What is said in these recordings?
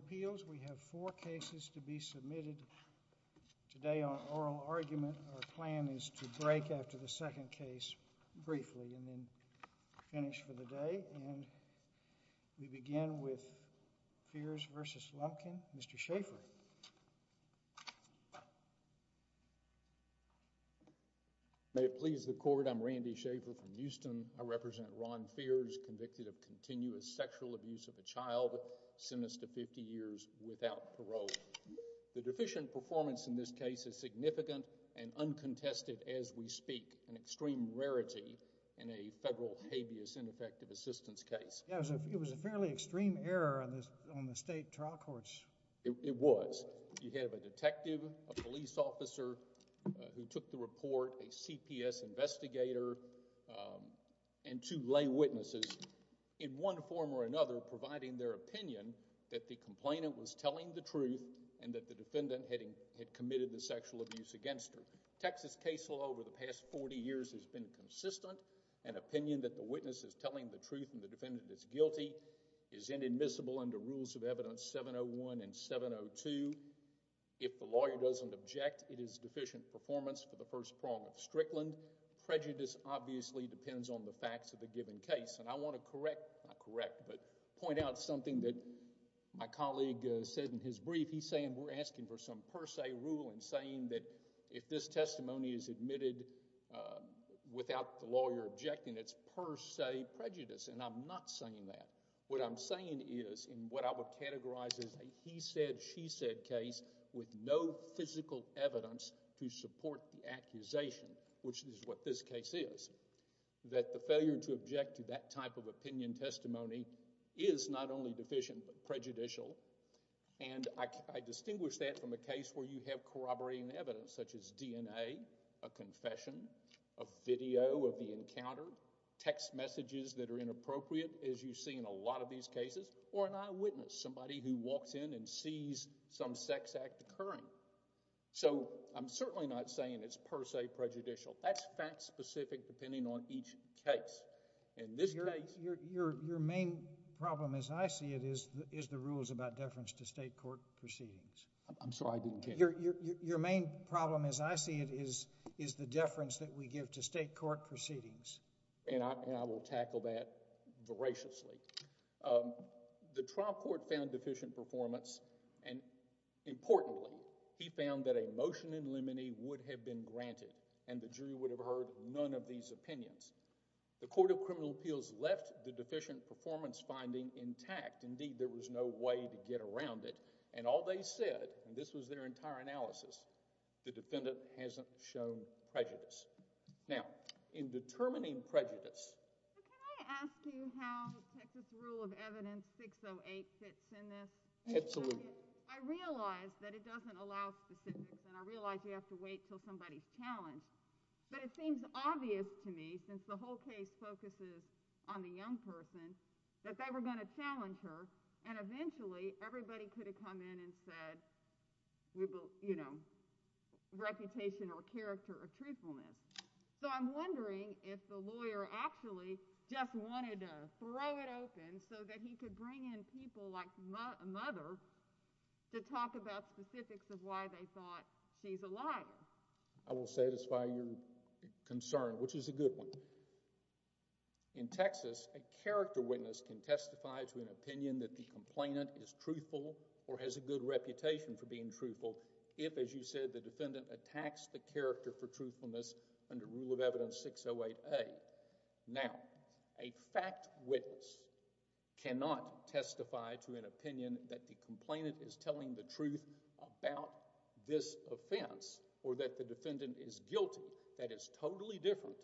Appeals. We have four cases to be submitted today on oral argument. Our plan is to break after the second case briefly and then finish for the day. And we begin with Fears v. Lumpkin. Mr. Schaffer. May it please the court, I'm Randy Schaffer from Houston. I represent Ron Fears, convicted of continuous sexual abuse of a child sentenced to 50 years without parole. The deficient performance in this case is significant and uncontested as we speak, an extreme rarity in a federal habeas ineffective assistance case. It was a fairly extreme error on the state trial courts. It was. You have a detective, a police officer who took the report, a CPS investigator, and two lay witnesses in one form or another providing their opinion that the complainant was telling the truth and that the defendant had committed the sexual abuse against her. Texas case law over the past 40 years has been consistent. An opinion that the witness is telling the truth and the defendant is guilty is inadmissible under Rules of Evidence 701 and 702. If the lawyer doesn't object, it is deficient performance for the first I want to correct, not correct, but point out something that my colleague said in his brief. He's saying we're asking for some per se rule and saying that if this testimony is admitted without the lawyer objecting, it's per se prejudice and I'm not saying that. What I'm saying is in what I would categorize as a he said, she said case with no physical evidence to support the accusation, which is what this case is, that the failure to object to that type of opinion testimony is not only deficient but prejudicial and I distinguish that from a case where you have corroborating evidence such as DNA, a confession, a video of the encounter, text messages that are inappropriate as you see in a lot of these cases or an eyewitness, somebody who walks in and sees some sex act occurring. So I'm certainly not saying it's per se prejudicial. That's fact specific depending on each case. In this case, your main problem as I see it is the rules about deference to state court proceedings. I'm sorry, I didn't get your main problem as I see it is the deference that we give to state court proceedings and I will tackle that voraciously. The trial court found deficient performance and importantly, he found that a motion in limine would have been granted and the jury would have heard none of these opinions. The Court of Criminal Appeals left the deficient performance finding intact. Indeed, there was no way to get around it and all they said, and this was their entire analysis, the defendant hasn't shown prejudice. Now, in determining prejudice... Can I ask you how Texas Rule of Evidence 608 fits in this? Absolutely. I realize that it doesn't allow specifics and I realize you have to wait until somebody's challenged, but it seems obvious to me since the whole case focuses on the young person that they were going to challenge her and eventually everybody could have come in and said, you know, reputation or character or truthfulness. So I'm wondering if the lawyer actually just wanted to throw it open so that he could bring in people like a mother to talk about specifics of why they thought she's a liar. I will satisfy your concern, which is a good one. In Texas, a character witness can testify to an opinion that the complainant is truthful or has a good reputation for being truthful if, as you said, the defendant attacks the character for truthfulness under Rule of Evidence 608A. Now, a fact witness cannot testify to an opinion that the complainant is telling the truth about this offense or that the defendant is guilty. That is totally different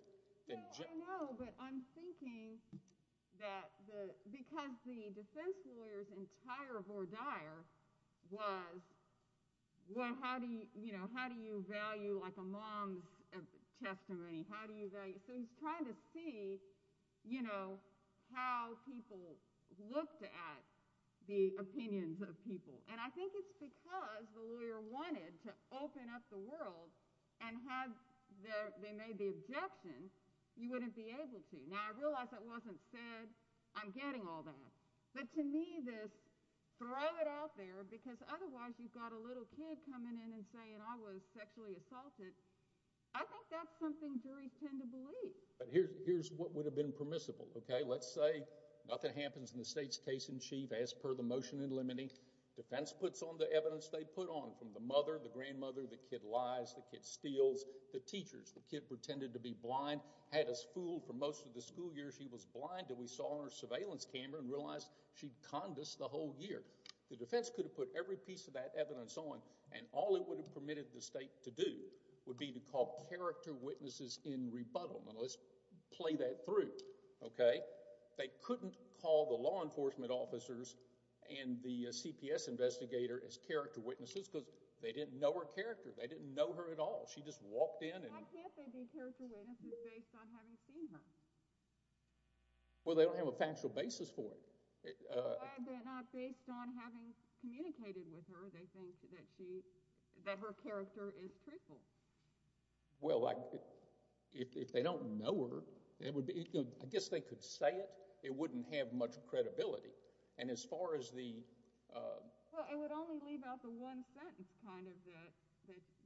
than... I know, but I'm thinking that because the defense lawyer's entire voir dire was, well, how do you, you know, how do you value like a mom's testimony? So he's trying to see, you know, how people looked at the opinions of people. And I think it's because the lawyer wanted to open up the world and had the... they made the objection, you wouldn't be able to. Now, I realize that wasn't said. I'm getting all that. But to me, this throw it out there because otherwise you've got a little kid coming in and saying I was sexually assaulted, I think that's something juries tend to believe. Here's what would have been permissible, okay? Let's say nothing happens in the state's case in chief as per the motion in limine. Defense puts on the evidence they put on from the mother, the grandmother, the kid lies, the kid steals, the teachers, the kid pretended to be blind, had us fooled for most of the school year she was blind until we saw her surveillance camera and realized she'd conned us the whole year. The defense could have put every piece of that evidence on and all it would have permitted the state to do would be to call character witnesses in rebuttal. Now, let's play that through, okay? They couldn't call the law enforcement officers and the CPS investigator as character witnesses because they didn't know her character. They didn't know her at all. She just walked in. Why can't they be character witnesses based on having seen her? Well, they don't have a factual basis for it. Why are they not based on having communicated with her? They think that she, that her character is truthful. Well, if they don't know her, I guess they could say it. It wouldn't have much credibility. And as far as the... Well, it would only leave out the one sentence kind of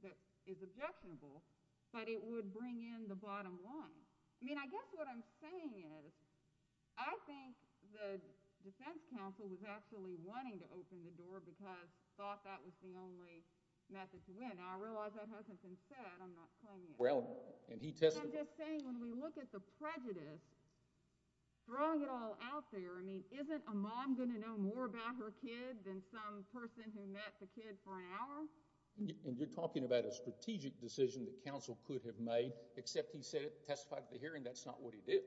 that is objectionable, but it would bring in the bottom line. I mean, I guess what I'm saying is, I think the defense counsel was actually wanting to open the door because they thought that was the only method to win. Now, I realize that hasn't been said. I'm not claiming it. Well, and he testified... I'm just saying, when we look at the prejudice, throwing it all out there, I mean, isn't a mom going to know more about her kid than some person who met the kid for an hour? And you're talking about a strategic decision that counsel could have made, except he testified at the hearing that's not what he did,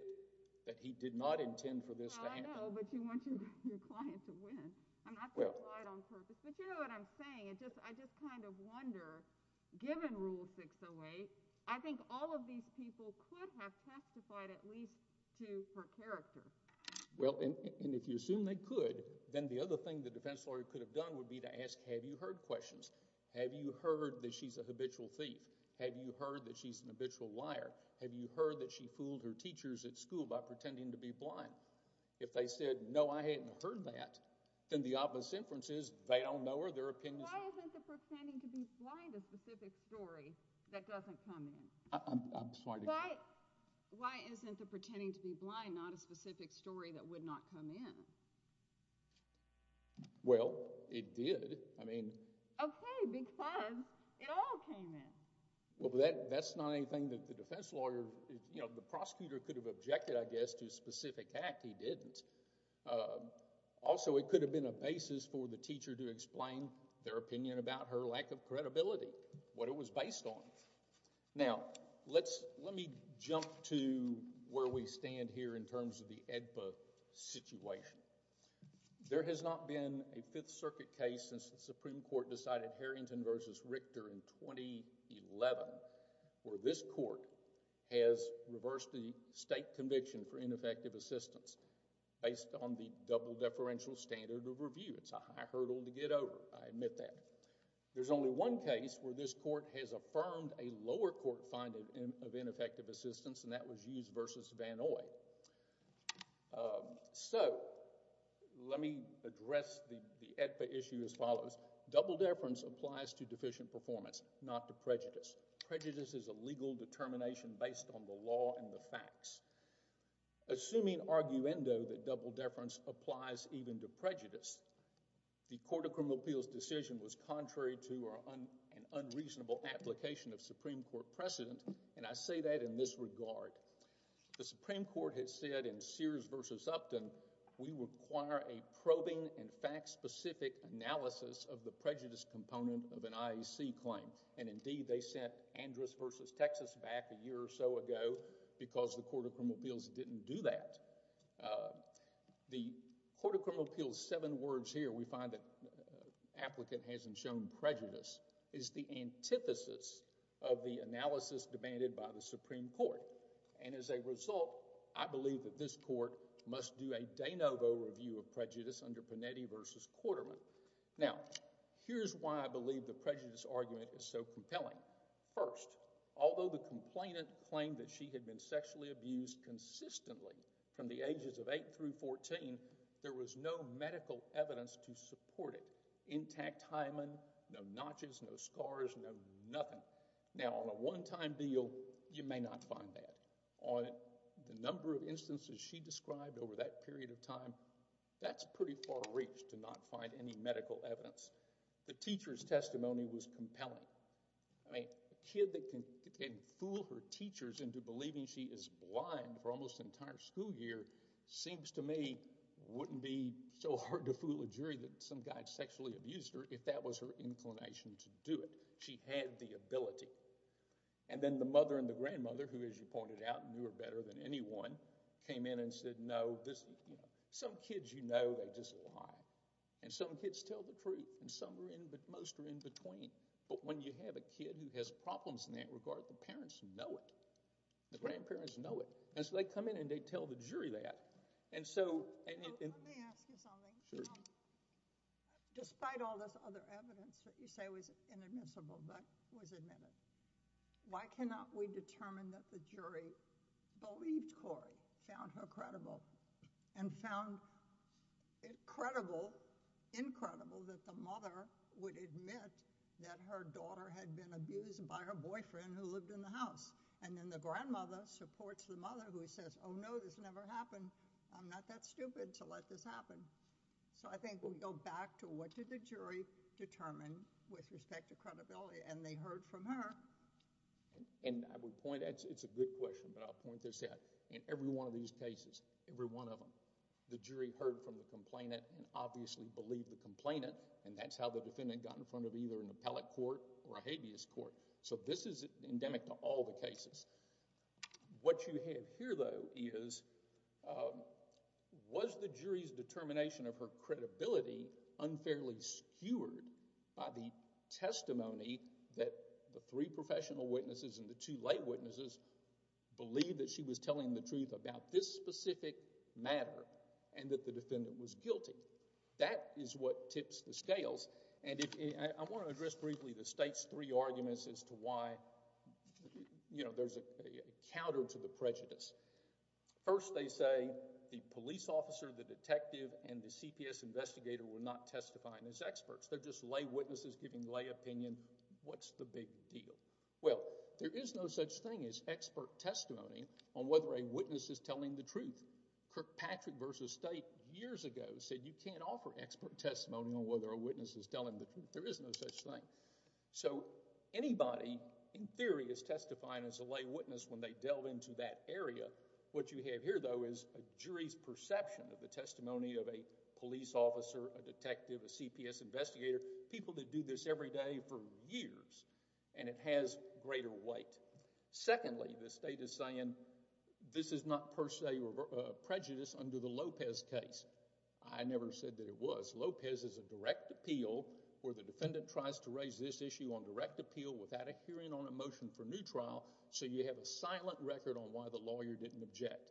that he did not intend for this to happen. Oh, I know, but you want your client to win. I'm not being lied on purpose. But you know what I'm saying. I just kind of wonder, given Rule 608, I think all of these people could have testified at least to her character. Well, and if you assume they could, then the other thing the defense lawyer could have done would be to ask, have you heard questions? Have you heard that she's a habitual thief? Have you heard that she's an habitual liar? Have you heard that she fooled her teachers at school by pretending to be blind? If they said, no, I hadn't heard that, then the obvious inference is they don't know her, their opinions— Why isn't the pretending to be blind a specific story that doesn't come in? I'm sorry to— Why isn't the pretending to be blind not a specific story that would not come in? Well, it did. I mean— Okay, because it all came in. Well, but that's not anything that the defense lawyer—you know, the prosecutor could have objected, I guess, to a specific act. He didn't. Also, it could have been a basis for the teacher to explain their opinion about her lack of credibility, what it was based on. Now, let me jump to where we stand here in terms of the AEDPA situation. There has not been a Fifth Circuit case since the Supreme Court decided Harrington v. Richter in 2011 where this court has reversed the state conviction for ineffective assistance based on the double deferential standard of review. It's a high hurdle to get over. I admit that. There's only one case where this court has affirmed a lower court finding of ineffective assistance, and that was Hughes v. Van Ooy. So, let me address the AEDPA issue as follows. Double deference applies to deficient performance, not to prejudice. Prejudice is a legal determination based on the law and the facts. Assuming arguendo that double deference applies even to prejudice, the Court of Criminal Appeals' decision was contrary to an unreasonable application of Supreme Court precedent, and I say that in this regard. The Supreme Court has said in Sears v. Upton, we require a probing and fact-specific analysis of the prejudice component of an IEC claim, and indeed they sent Andrus v. Texas back a year or so ago because the Court of Criminal Appeals didn't do that. The Court of Criminal Appeals' seven words here, we find that the applicant hasn't shown prejudice, is the antithesis of the analysis demanded by the Supreme Court. And as a result, I believe that this court must do a de novo review of prejudice under Panetti v. Quarterman. Now, here's why I believe the prejudice argument is so compelling. First, although the complainant claimed that she had been sexually abused consistently from the ages of 8 through 14, there was no medical evidence to support it. Intact hymen, no notches, no scars, no nothing. Now, on a one-time deal, you may not find that. On the number of instances she described over that period of time, that's pretty far reached to not find any medical evidence. The teacher's testimony was compelling. I mean, a kid that can fool her teachers into believing she is blind for almost an entire school year seems to me wouldn't be so hard to fool a jury that some guy sexually abused her if that was her inclination to do it. She had the ability. And then the mother and the grandmother, who as you pointed out, knew her better than anyone, came in and said, no, some kids you know, they just lie. And some kids tell the truth. And some are in, but most are in between. But when you have a kid who has problems in that regard, the parents know it. The grandparents know it. And so they come in and they tell the jury that. Let me ask you something. Despite all this other evidence that you say was inadmissible but was admitted, why cannot we determine that the jury believed Corey, found her credible, and found it credible, incredible, that the mother would admit that her daughter had been abused by her boyfriend who lived in the house. And then the grandmother supports the mother who says, oh no, this never happened. I'm not that stupid to let this happen. So I think we go back to what did the jury determine with respect to credibility. And they heard from her. And I would point, it's a good question, but I'll point this out. In every one of these cases, every one of them, the jury heard from the complainant and obviously believed the complainant. And that's how the defendant got in front of either an appellate court or a habeas court. So this is endemic to all the cases. What you have here, though, is was the jury's determination of her credibility unfairly skewered by the testimony that the three professional witnesses and the two lay witnesses believed that she was telling the truth about this specific matter and that the defendant was guilty. That is what tips the scales. And I want to address briefly the state's three arguments as to why there's a counter to the prejudice. First they say the police officer, the detective, and the CPS investigator were not testifying as experts. They're just lay witnesses giving lay opinion. What's the big deal? Well, there is no such thing as expert testimony on whether a witness is telling the truth. Kirkpatrick v. State years ago said you can't offer expert testimony on whether a witness is telling the truth. There is no such thing. So anybody, in theory, is testifying as a lay witness when they delve into that area. What you have here, though, is a jury's perception of the testimony of a police officer, a detective, a CPS investigator, people that do this every day for years. And it has greater weight. Secondly, the state is saying this is not per se prejudice under the Lopez case. I never said that it was. Lopez is a direct appeal where the defendant tries to raise this issue on direct appeal without a hearing on a motion for new trial so you have a silent record on why the lawyer didn't object.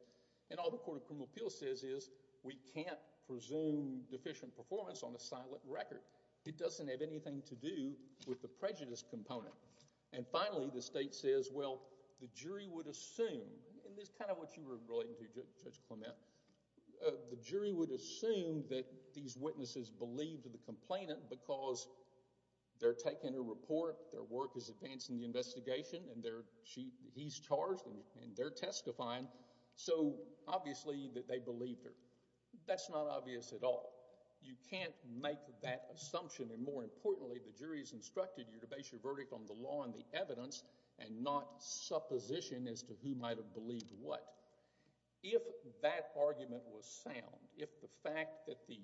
And all the Court of Criminal Appeals says is we can't presume deficient performance on a silent record. It doesn't have anything to do with the prejudice component. And finally, the state says, well, the jury would assume, and this is kind of what you were relating to, Judge Clement, the jury would assume that these witnesses believed the complainant because they're taking a report, their work is advancing the investigation, and he's charged, and they're testifying, so obviously they believed her. That's not obvious at all. You can't make that assumption, and more importantly, the jury has instructed you to base your verdict on the law and the evidence and not supposition as to who might have believed what. If that argument was sound, if the fact that the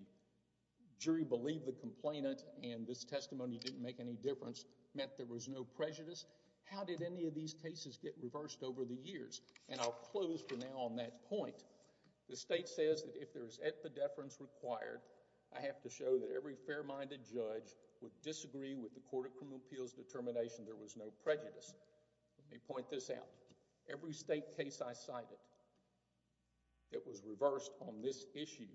jury believed the complainant and this testimony didn't make any difference meant there was no prejudice, how did any of these cases get reversed over the years? And I'll close for now on that point. The state says that if there is epidepherence required, I have to show that every fair-minded judge would disagree with the Court of Criminal Appeals determination there was no prejudice. Let me point this out. Every state case I cited that was reversed on this issue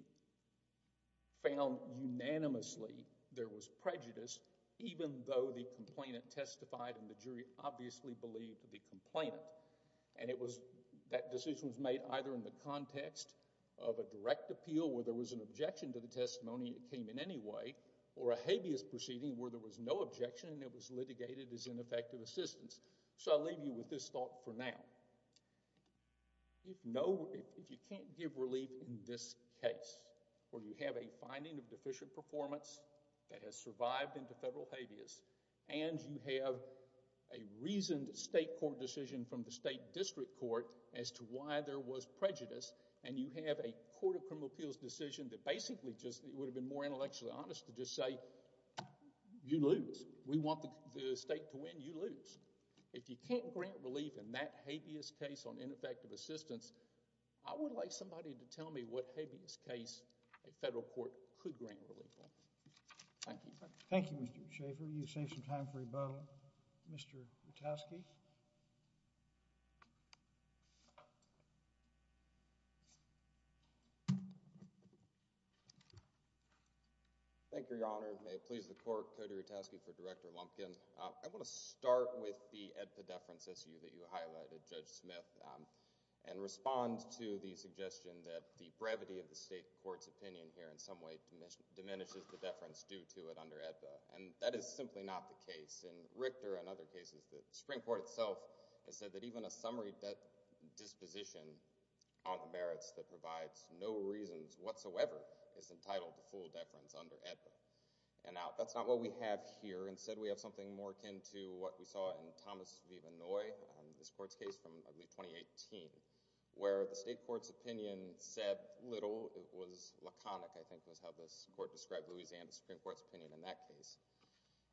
found unanimously there was prejudice even though the complainant testified and the jury obviously believed the complainant, and that decision was made either in the context of a direct appeal where there was an objection to the testimony that came in anyway or a habeas proceeding where there was no objection and it was litigated as ineffective assistance. So I'll leave you with this thought for now. If you can't give relief in this case where you have a finding of deficient performance that has survived into federal habeas and you have a reasoned state court decision from the state district court as to why there was prejudice and you have a Court of Criminal Appeals decision that basically just— it would have been more intellectually honest to just say, you lose. We want the state to win. You lose. If you can't grant relief in that habeas case on ineffective assistance, I would like somebody to tell me what habeas case a federal court could grant relief on. Thank you. Thank you, Mr. Schaffer. You've saved some time for rebuttal. Mr. Rutowski? Thank you, Your Honor. May it please the court, Cody Rutowski for Director Lumpkin. I want to start with the EDPA deference issue that you highlighted, Judge Smith, and respond to the suggestion that the brevity of the state court's opinion here in some way diminishes the deference due to it under EDPA, and that is simply not the case. In Richter and other cases that the Supreme Court has heard, the Supreme Court itself has said that even a summary disposition on the merits that provides no reasons whatsoever is entitled to full deference under EDPA. Now, that's not what we have here. Instead, we have something more akin to what we saw in Thomas v. Manoy, this court's case from early 2018, where the state court's opinion said little. It was laconic, I think, was how this court described Louisiana Supreme Court's opinion in that case.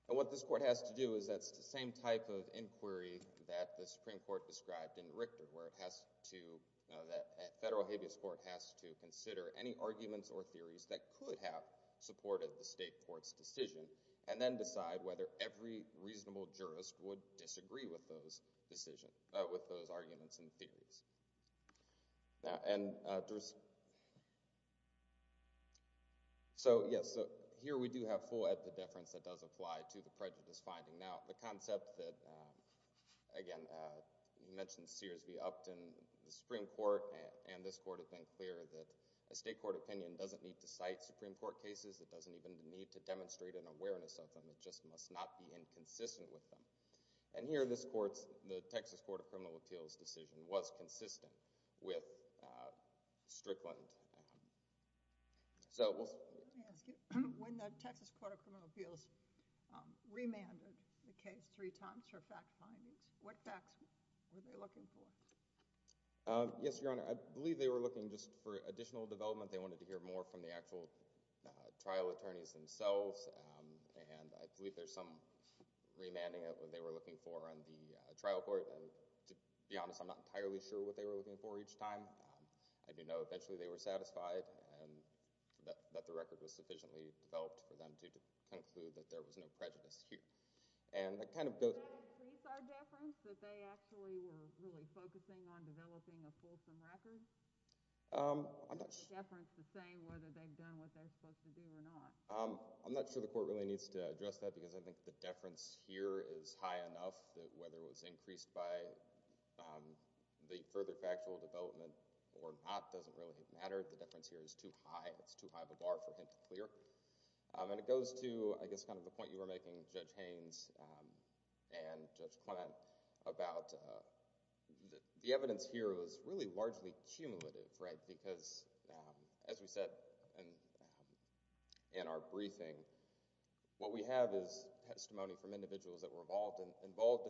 And what this court has to do is that it's the same type of inquiry that the Supreme Court described in Richter, where the federal habeas court has to consider any arguments or theories that could have supported the state court's decision and then decide whether every reasonable jurist would disagree with those arguments and theories. So, yes, here we do have full EDPA deference that does apply to the prejudice finding. Now, the concept that, again, you mentioned Sears v. Upton, the Supreme Court and this court have been clear that a state court opinion doesn't need to cite Supreme Court cases. It doesn't even need to demonstrate an awareness of them. It just must not be inconsistent with them. And here this court's, the Texas Court of Criminal Appeals' decision, was consistent with Strickland. Let me ask you, when the Texas Court of Criminal Appeals remanded the case three times for fact findings, what facts were they looking for? Yes, Your Honor, I believe they were looking just for additional development. They wanted to hear more from the actual trial attorneys themselves. And I believe there's some remanding of what they were looking for on the trial court. And to be honest, I'm not entirely sure what they were looking for each time. I do know eventually they were satisfied and that the record was sufficiently developed for them to conclude that there was no prejudice here. Does that increase our deference, that they actually were really focusing on developing a fulsome record? Is the deference the same whether they've done what they're supposed to do or not? I'm not sure the court really needs to address that because I think the deference here is high enough that whether it was increased by the further factual development or not doesn't really matter. The deference here is too high. It's too high of a bar for him to clear. And it goes to, I guess, kind of the point you were making, Judge Haynes and Judge Clement, about the evidence here was really largely cumulative, right? As we said in our briefing, what we have is testimony from individuals that were involved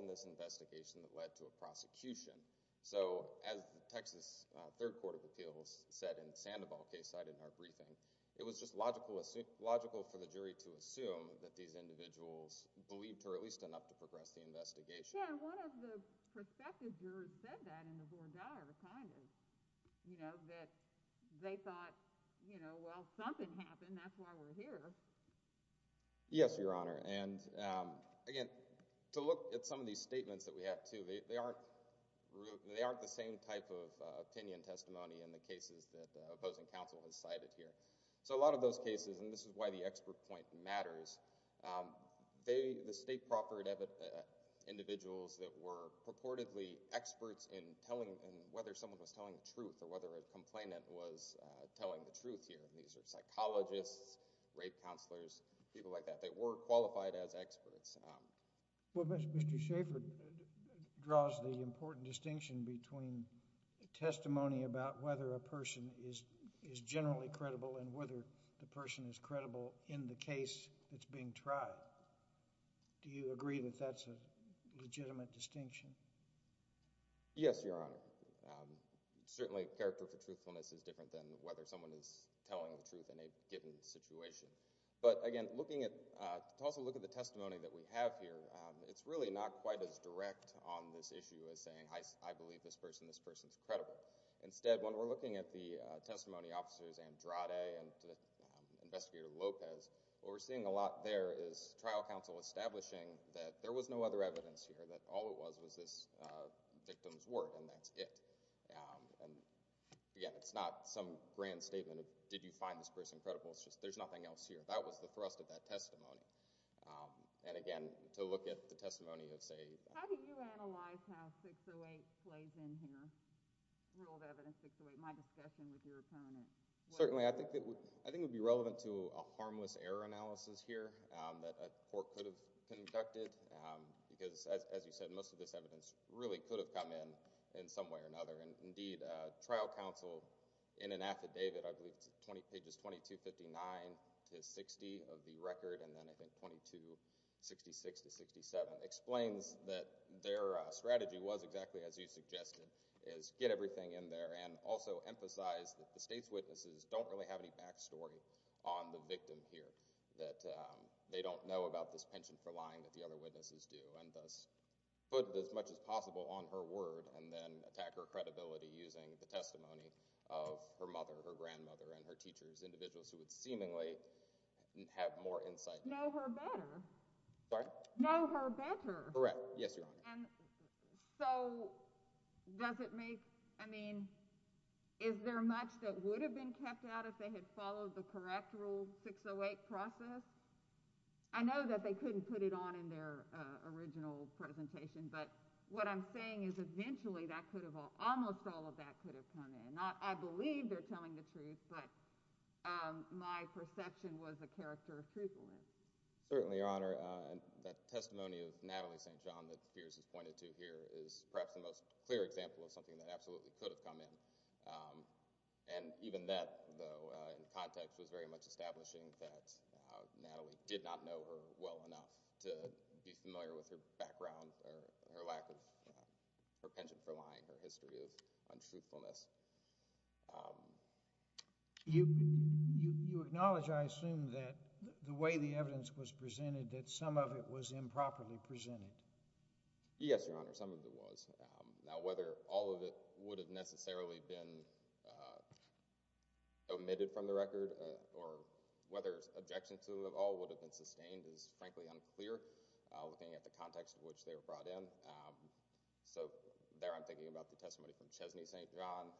in this investigation that led to a prosecution. So as the Texas Third Court of Appeals said in the Sandoval case cited in our briefing, it was just logical for the jury to assume that these individuals believed her at least enough to progress the investigation. Yeah, and one of the prospective jurors said that in the voir dire, kind of, you know, that they thought, you know, well, something happened. That's why we're here. Yes, Your Honor. And again, to look at some of these statements that we have too, they aren't the same type of opinion testimony in the cases that opposing counsel has cited here. So a lot of those cases, and this is why the expert point matters, the state proffered individuals that were purportedly experts in whether someone was telling the truth or whether a complainant was telling the truth here. These are psychologists, rape counselors, people like that. They were qualified as experts. Well, Mr. Schaffer draws the important distinction between testimony about whether a person is generally credible and whether the person is credible in the case that's being tried. Do you agree that that's a legitimate distinction? Yes, Your Honor. Certainly character for truthfulness is different than whether someone is telling the truth in a given situation. But again, to also look at the testimony that we have here, it's really not quite as direct on this issue as saying, I believe this person, this person's credible. Instead, when we're looking at the testimony officers, Andrade and Investigator Lopez, what we're seeing a lot there is trial counsel establishing that there was no other evidence here, that all it was was this victim's word, and that's it. And again, it's not some grand statement of, did you find this person credible? It's just, there's nothing else here. That was the thrust of that testimony. And again, to look at the testimony of, say... How do you analyze how 608 plays in here, rule of evidence 608, my discussion with your opponent? Certainly, I think it would be relevant to a harmless error analysis here that a court could have conducted because, as you said, most of this evidence really could have come in in some way or another. Indeed, trial counsel, in an affidavit, I believe it's pages 2259-60 of the record, and then I think 2266-67, explains that their strategy was exactly as you suggested, is get everything in there and also emphasize that the state's witnesses don't really have any backstory on the victim here, that they don't know about this pension for lying that the other witnesses do, and thus put as much as possible on her word and then attack her credibility using the testimony of her mother, her grandmother, and her teachers, individuals who would seemingly have more insight. Know her better. Sorry? Know her better. Correct. Yes, Your Honor. And so, does it make... I mean, is there much that would have been kept out if they had followed the correct rule, 608 process? I know that they couldn't put it on in their original presentation, but what I'm saying is eventually that could have... almost all of that could have come in. I believe they're telling the truth, but my perception was the character of truthfulness. Certainly, Your Honor. That testimony of Natalie St. John that Pierce has pointed to here is perhaps the most clear example of something that absolutely could have come in. And even that, though, in context, perhaps was very much establishing that Natalie did not know her well enough to be familiar with her background or her lack of... her penchant for lying, her history of untruthfulness. You acknowledge, I assume, that the way the evidence was presented, that some of it was improperly presented. Yes, Your Honor, some of it was. Now, whether all of it would have necessarily been omitted from the record, or whether objections to it all would have been sustained is, frankly, unclear, looking at the context in which they were brought in. So there I'm thinking about the testimony from Chesney St. John.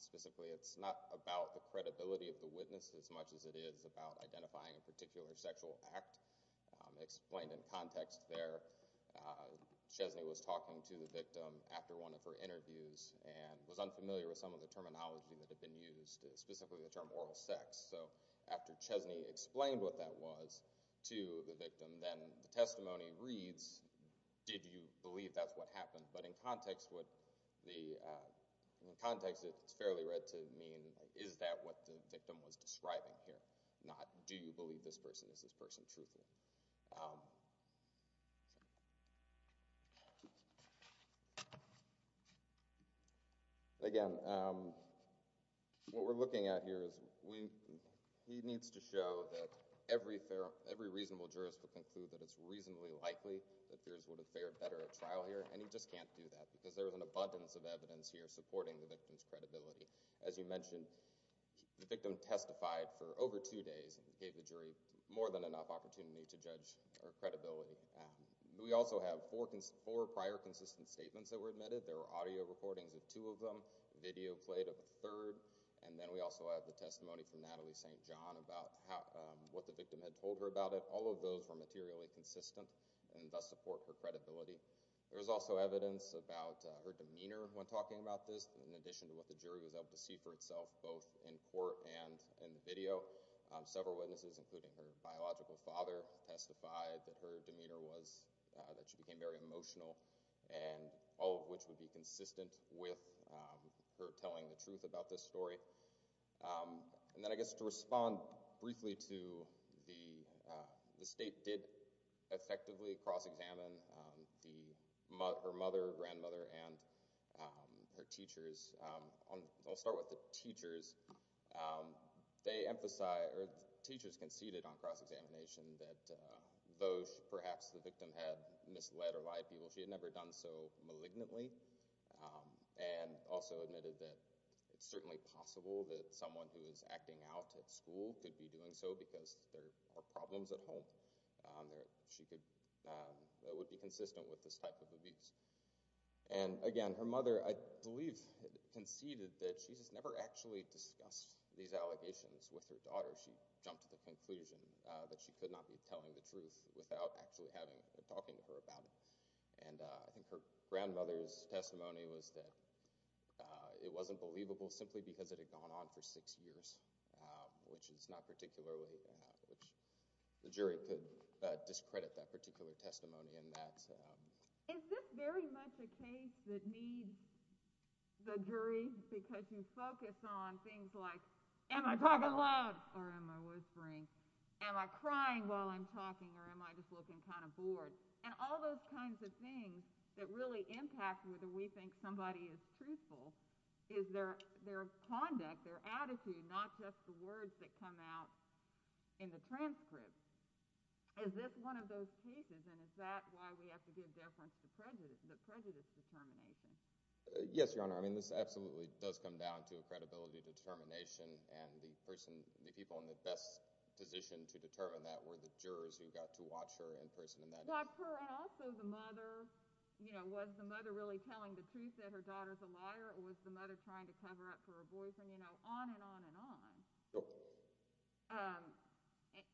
Specifically, it's not about the credibility of the witness as much as it is about identifying a particular sexual act. Explained in context there, Chesney was talking to the victim after one of her interviews and was unfamiliar with some of the terminology that had been used, specifically the term oral sex. So after Chesney explained what that was to the victim, then the testimony reads, did you believe that's what happened? But in context, it's fairly read to mean, is that what the victim was describing here? Not, do you believe this person is this person, truthfully? Again, what we're looking at here is, he needs to show that every reasonable jurist will conclude that it's reasonably likely that fears would have fared better at trial here, and he just can't do that because there is an abundance of evidence here supporting the victim's credibility. As you mentioned, the victim testified for over two days and gave the jury more than enough opportunity to judge Chesney's testimony. We also have four prior consistent statements that were admitted. There were audio recordings of two of them, video played of a third, and then we also have the testimony from Natalie St. John about what the victim had told her about it. All of those were materially consistent and thus support her credibility. There was also evidence about her demeanor when talking about this, in addition to what the jury was able to see for itself both in court and in the video. Several witnesses, including her biological father, testified that her demeanor was— that she became very emotional, all of which would be consistent with her telling the truth about this story. And then I guess to respond briefly to the state did effectively cross-examine her mother, grandmother, and her teachers. I'll start with the teachers. They emphasize, or teachers conceded on cross-examination that though perhaps the victim had misled or lied to people, she had never done so malignantly and also admitted that it's certainly possible that someone who is acting out at school could be doing so because there are problems at home. She would be consistent with this type of abuse. And again, her mother, I believe, conceded that she's never actually discussed these allegations with her daughter. She jumped to the conclusion that she could not be telling the truth without actually talking to her about it. And I think her grandmother's testimony was that it wasn't believable simply because it had gone on for six years, which is not particularly— which the jury could discredit that particular testimony in that— Is this very much a case that needs the jury because you focus on things like, am I talking loud or am I whispering? Am I crying while I'm talking or am I just looking kind of bored? And all those kinds of things that really impact whether we think somebody is truthful is their conduct, their attitude, not just the words that come out in the transcript. Is this one of those cases, and is that why we have to give deference to the prejudice determination? Yes, Your Honor. I mean, this absolutely does come down to a credibility determination. And the person—the people in the best position to determine that were the jurors who got to watch her in person in that case. But also the mother, you know, was the mother really telling the truth that her daughter's a liar or was the mother trying to cover up for her boyfriend? You know, on and on and on. Sure.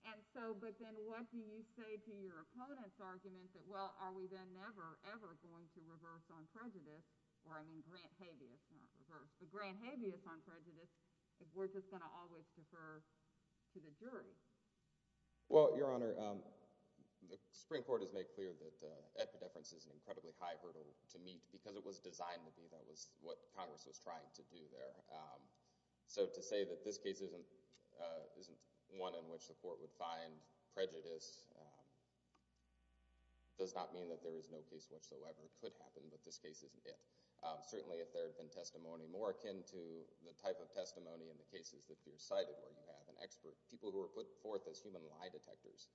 And so, but then what do you say to your opponent's argument that, well, are we then never, ever going to reverse on prejudice— or I mean grant habeas, not reverse, but grant habeas on prejudice if we're just going to always defer to the jury? Well, Your Honor, the Supreme Court has made clear that epidefference is an incredibly high hurdle to meet because it was designed to be. That was what Congress was trying to do there. So to say that this case isn't one in which the court would find prejudice does not mean that there is no case whatsoever that could happen, but this case isn't it. Certainly if there had been testimony more akin to the type of testimony in the cases that you cited where you have an expert, people who were put forth as human lie detectors,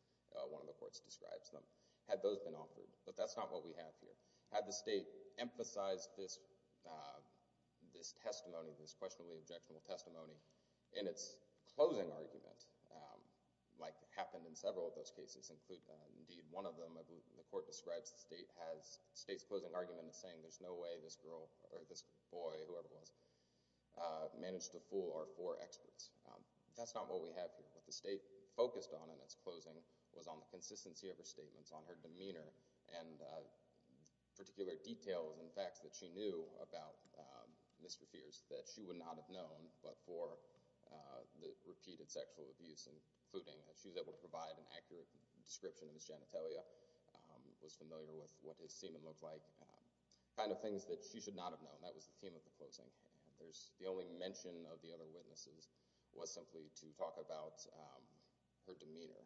one of the courts describes them, had those been offered. But that's not what we have here. Had the state emphasized this testimony, this questionably objectionable testimony, in its closing argument, like happened in several of those cases, indeed one of them the court describes the state's closing argument as saying there's no way this girl, or this boy, whoever it was, managed to fool our four experts. That's not what we have here. What the state focused on in its closing was on the consistency of her statements, on her demeanor, and particular details and facts that she knew about Mr. Fierce that she would not have known but for the repeated sexual abuse, including that she was able to provide an accurate description of his genitalia, was familiar with what his semen looked like, kind of things that she should not have known. That was the theme of the closing. The only mention of the other witnesses was simply to talk about her demeanor.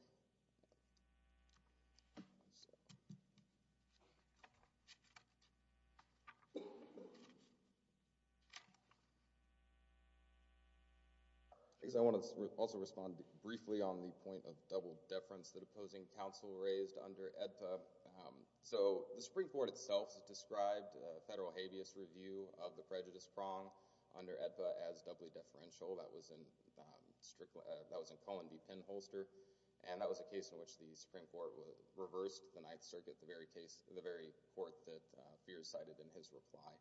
I want to also respond briefly on the point of double-deference that opposing counsel raised under AEDPA. The Supreme Court itself described a federal habeas review of the prejudice prong under AEDPA as doubly deferential. That was in Cullen v. Penholster, and that was a case in which the Supreme Court reversed the Ninth Circuit, the very court that Fierce cited in his reply,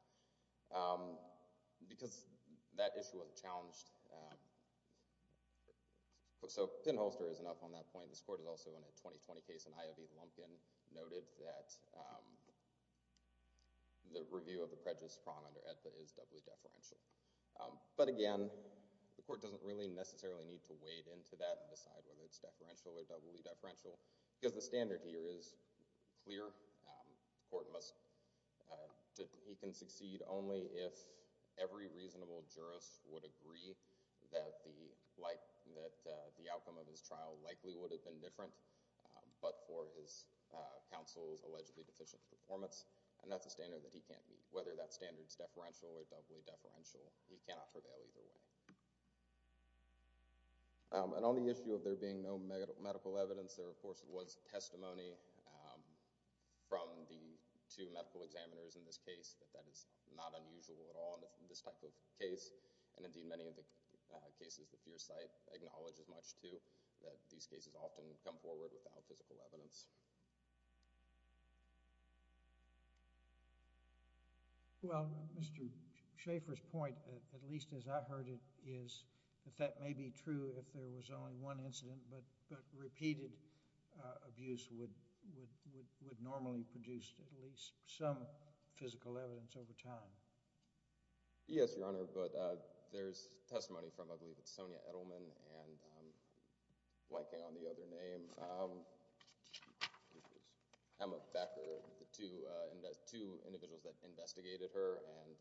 because that issue was challenged. So Penholster is enough on that point. This court is also in a 2020 case, and I.V. Lumpkin noted that the review of the prejudice prong under AEDPA is doubly deferential. But again, the court doesn't really necessarily need to wade into that and decide whether it's deferential or doubly deferential, because the standard here is clear. The court must, he can succeed only if every reasonable jurist would agree that the outcome of his trial likely would have been different, but for his counsel's allegedly deficient performance, and that's a standard that he can't meet. Whether that standard's deferential or doubly deferential, he cannot prevail either way. And on the issue of there being no medical evidence, there, of course, was testimony from the two medical examiners in this case that that is not unusual at all in this type of case, and indeed many of the cases that Fearside acknowledges much to, that these cases often come forward without physical evidence. Well, Mr. Schaefer's point, at least as I heard it, is that that may be true if there was only one incident, but repeated abuse would normally produce at least some physical evidence over time. Yes, Your Honor, but there's testimony from, I believe it's Sonia Edelman and blanking on the other name, Emma Becker, the two individuals that investigated her, and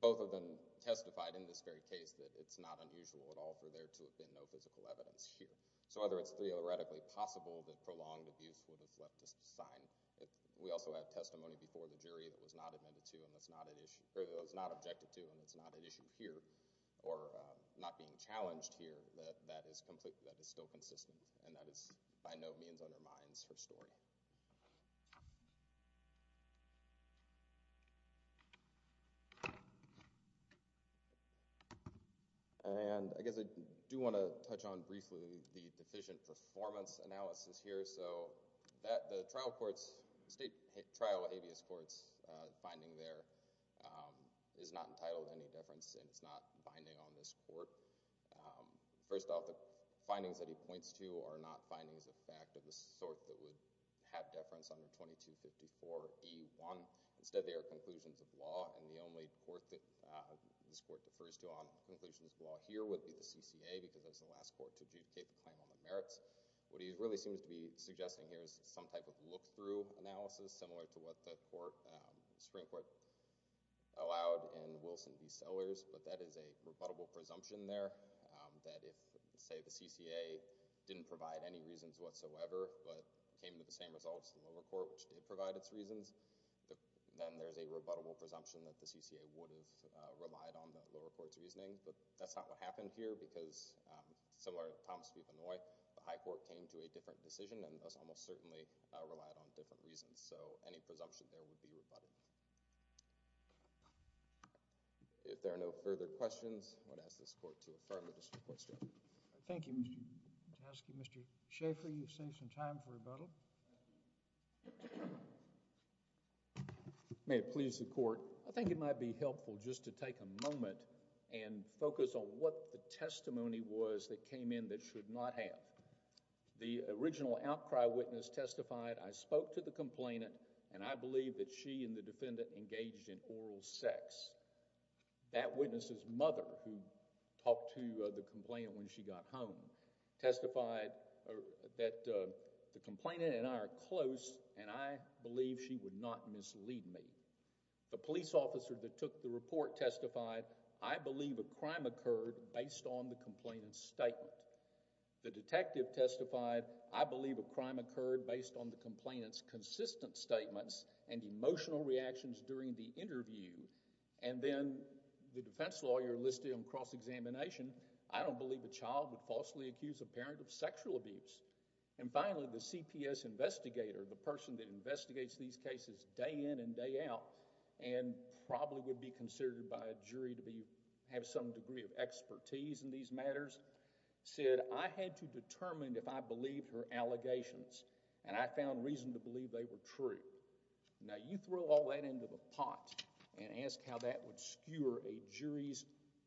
both of them testified in this very case that it's not unusual at all for there to have been no physical evidence here. So whether it's theoretically possible that prolonged abuse would have left a sign, we also have testimony before the jury that was not objected to and that's not at issue here, or not being challenged here, that is still consistent, and that by no means undermines her story. And I guess I do want to touch on briefly the deficient performance analysis here, so the trial court's, state trial abeast court's finding there is not entitled to any deference and it's not binding on this court. First off, the findings that he points to are not findings of fact of the sort that would have deference under 2254 e.1. Instead, they are conclusions of law, and the only court that this court defers to on is the CCA because that's the last court to adjudicate the claim on the merits. What he really seems to be suggesting here is some type of look-through analysis, similar to what the Supreme Court allowed in Wilson v. Sellers, but that is a rebuttable presumption there that if, say, the CCA didn't provide any reasons whatsoever but came to the same results in the lower court which did provide its reasons, then there's a rebuttable presumption that the CCA would have relied on the lower court's reasoning, but that's not what happened here because, similar to Thomas v. Benoit, the high court came to a different decision and thus almost certainly relied on different reasons, so any presumption there would be rebutted. If there are no further questions, I'm going to ask this court to affirm the district court's judgment. Thank you, Mr. Jahoske. Mr. Schaffer, you've saved some time for rebuttal. May it please the court. I think it would be appropriate to take a moment and focus on what the testimony was that came in that should not have. The original outcry witness testified, I spoke to the complainant and I believe that she and the defendant engaged in oral sex. That witness's mother, who talked to the complainant when she got home, testified that the complainant and I are close and I believe she would not mislead me. The police officer that took the report testified, I believe a crime occurred based on the complainant's statement. The detective testified, I believe a crime occurred based on the complainant's consistent statements and emotional reactions during the interview. And then the defense lawyer listed on cross-examination, I don't believe a child would falsely accuse a parent of sexual abuse. And finally, the CPS investigator, the person that investigates these cases day in and day out, and probably would be considered by a jury to have some degree of expertise in these matters, said, I had to determine if I believed her allegations and I found reason to believe they were true. Now you throw all that into the pot and ask how that would skewer a jury's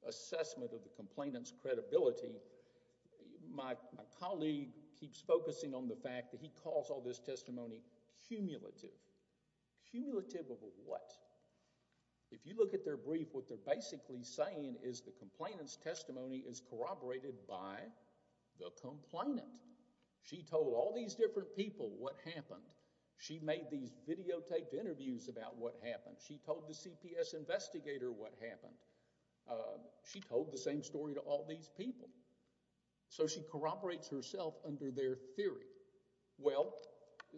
assessment of the complainant's credibility. My colleague keeps focusing on the fact that he calls all this testimony cumulative. Cumulative of what? If you look at their brief, what they're basically saying is the complainant's testimony is corroborated by the complainant. She told all these different people what happened. She made these videotaped interviews about what happened. She told the CPS investigator what happened. She told the same story to all these people. So she corroborates herself under their theory. Well,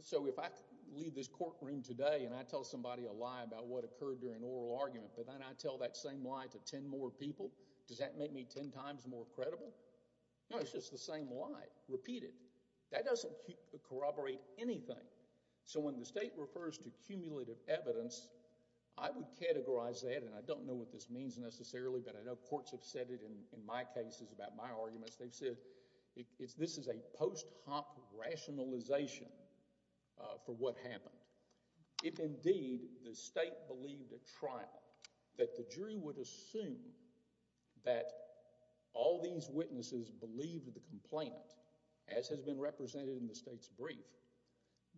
so if I leave this courtroom today and I tell somebody a lie about what occurred during an oral argument, but then I tell that same lie to ten more people, does that make me ten times more credible? No, it's just the same lie, repeated. That doesn't corroborate anything. So when the state refers to cumulative evidence, I would categorize that, and I don't know what this means necessarily, but I know courts have said it in my cases about my arguments. They've said this is a post hoc rationalization for what happened. If indeed the state believed at trial that the jury would assume that all these witnesses believed the complainant, as has been represented in the state's brief,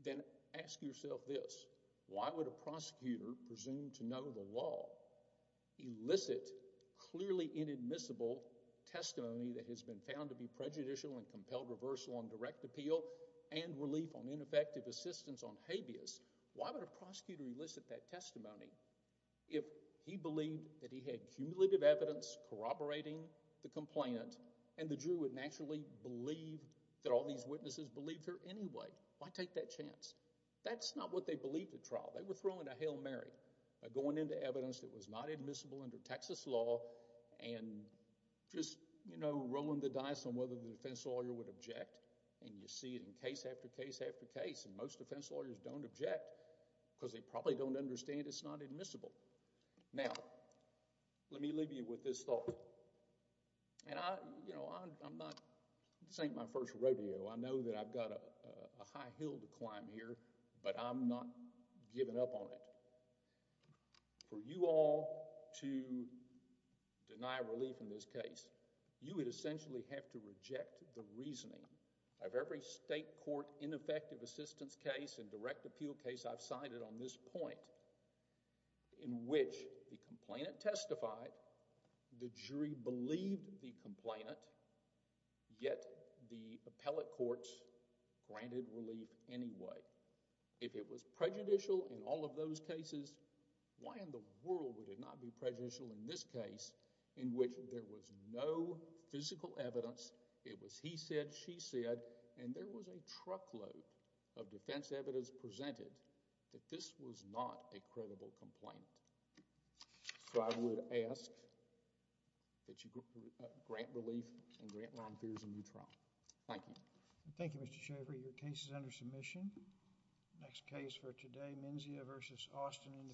then ask yourself this. Why would a prosecutor presume to know the law elicit clearly inadmissible testimony that has been found to be prejudicial and compelled reversal on direct appeal and relief on ineffective assistance on habeas? Why would a prosecutor elicit that testimony if he believed that he had cumulative evidence corroborating the complainant and the jury would naturally believe that all these witnesses believed her anyway? Why take that chance? That's not what they believed at trial. They were thrown into Hail Mary by going into evidence that was not admissible under Texas law and just rolling the dice on whether the defense lawyer would object, and you see it in case after case after case, and most defense lawyers don't object because they probably don't understand it's not admissible. Now, let me leave you with this thought. And I, you know, I'm not, this ain't my first rodeo. I know that I've got a high hill to climb here, but I'm not giving up on it. For you all to deny relief in this case, you would essentially have to reject the reasoning of every state court ineffective assistance case and direct appeal case I've cited on this point in which the complainant testified, the jury believed the complainant, yet the appellate courts granted relief anyway. If it was prejudicial in all of those cases, why in the world would it not be prejudicial in this case in which there was no physical evidence, it was he said, she said, and there was a truckload of defense evidence presented that this was not a credible complainant. So I would ask that you grant relief and grant Ron Fears a new trial. Thank you. Thank you, Mr. Shafer. Your case is under submission. Next case for today, Menzia v. Austin.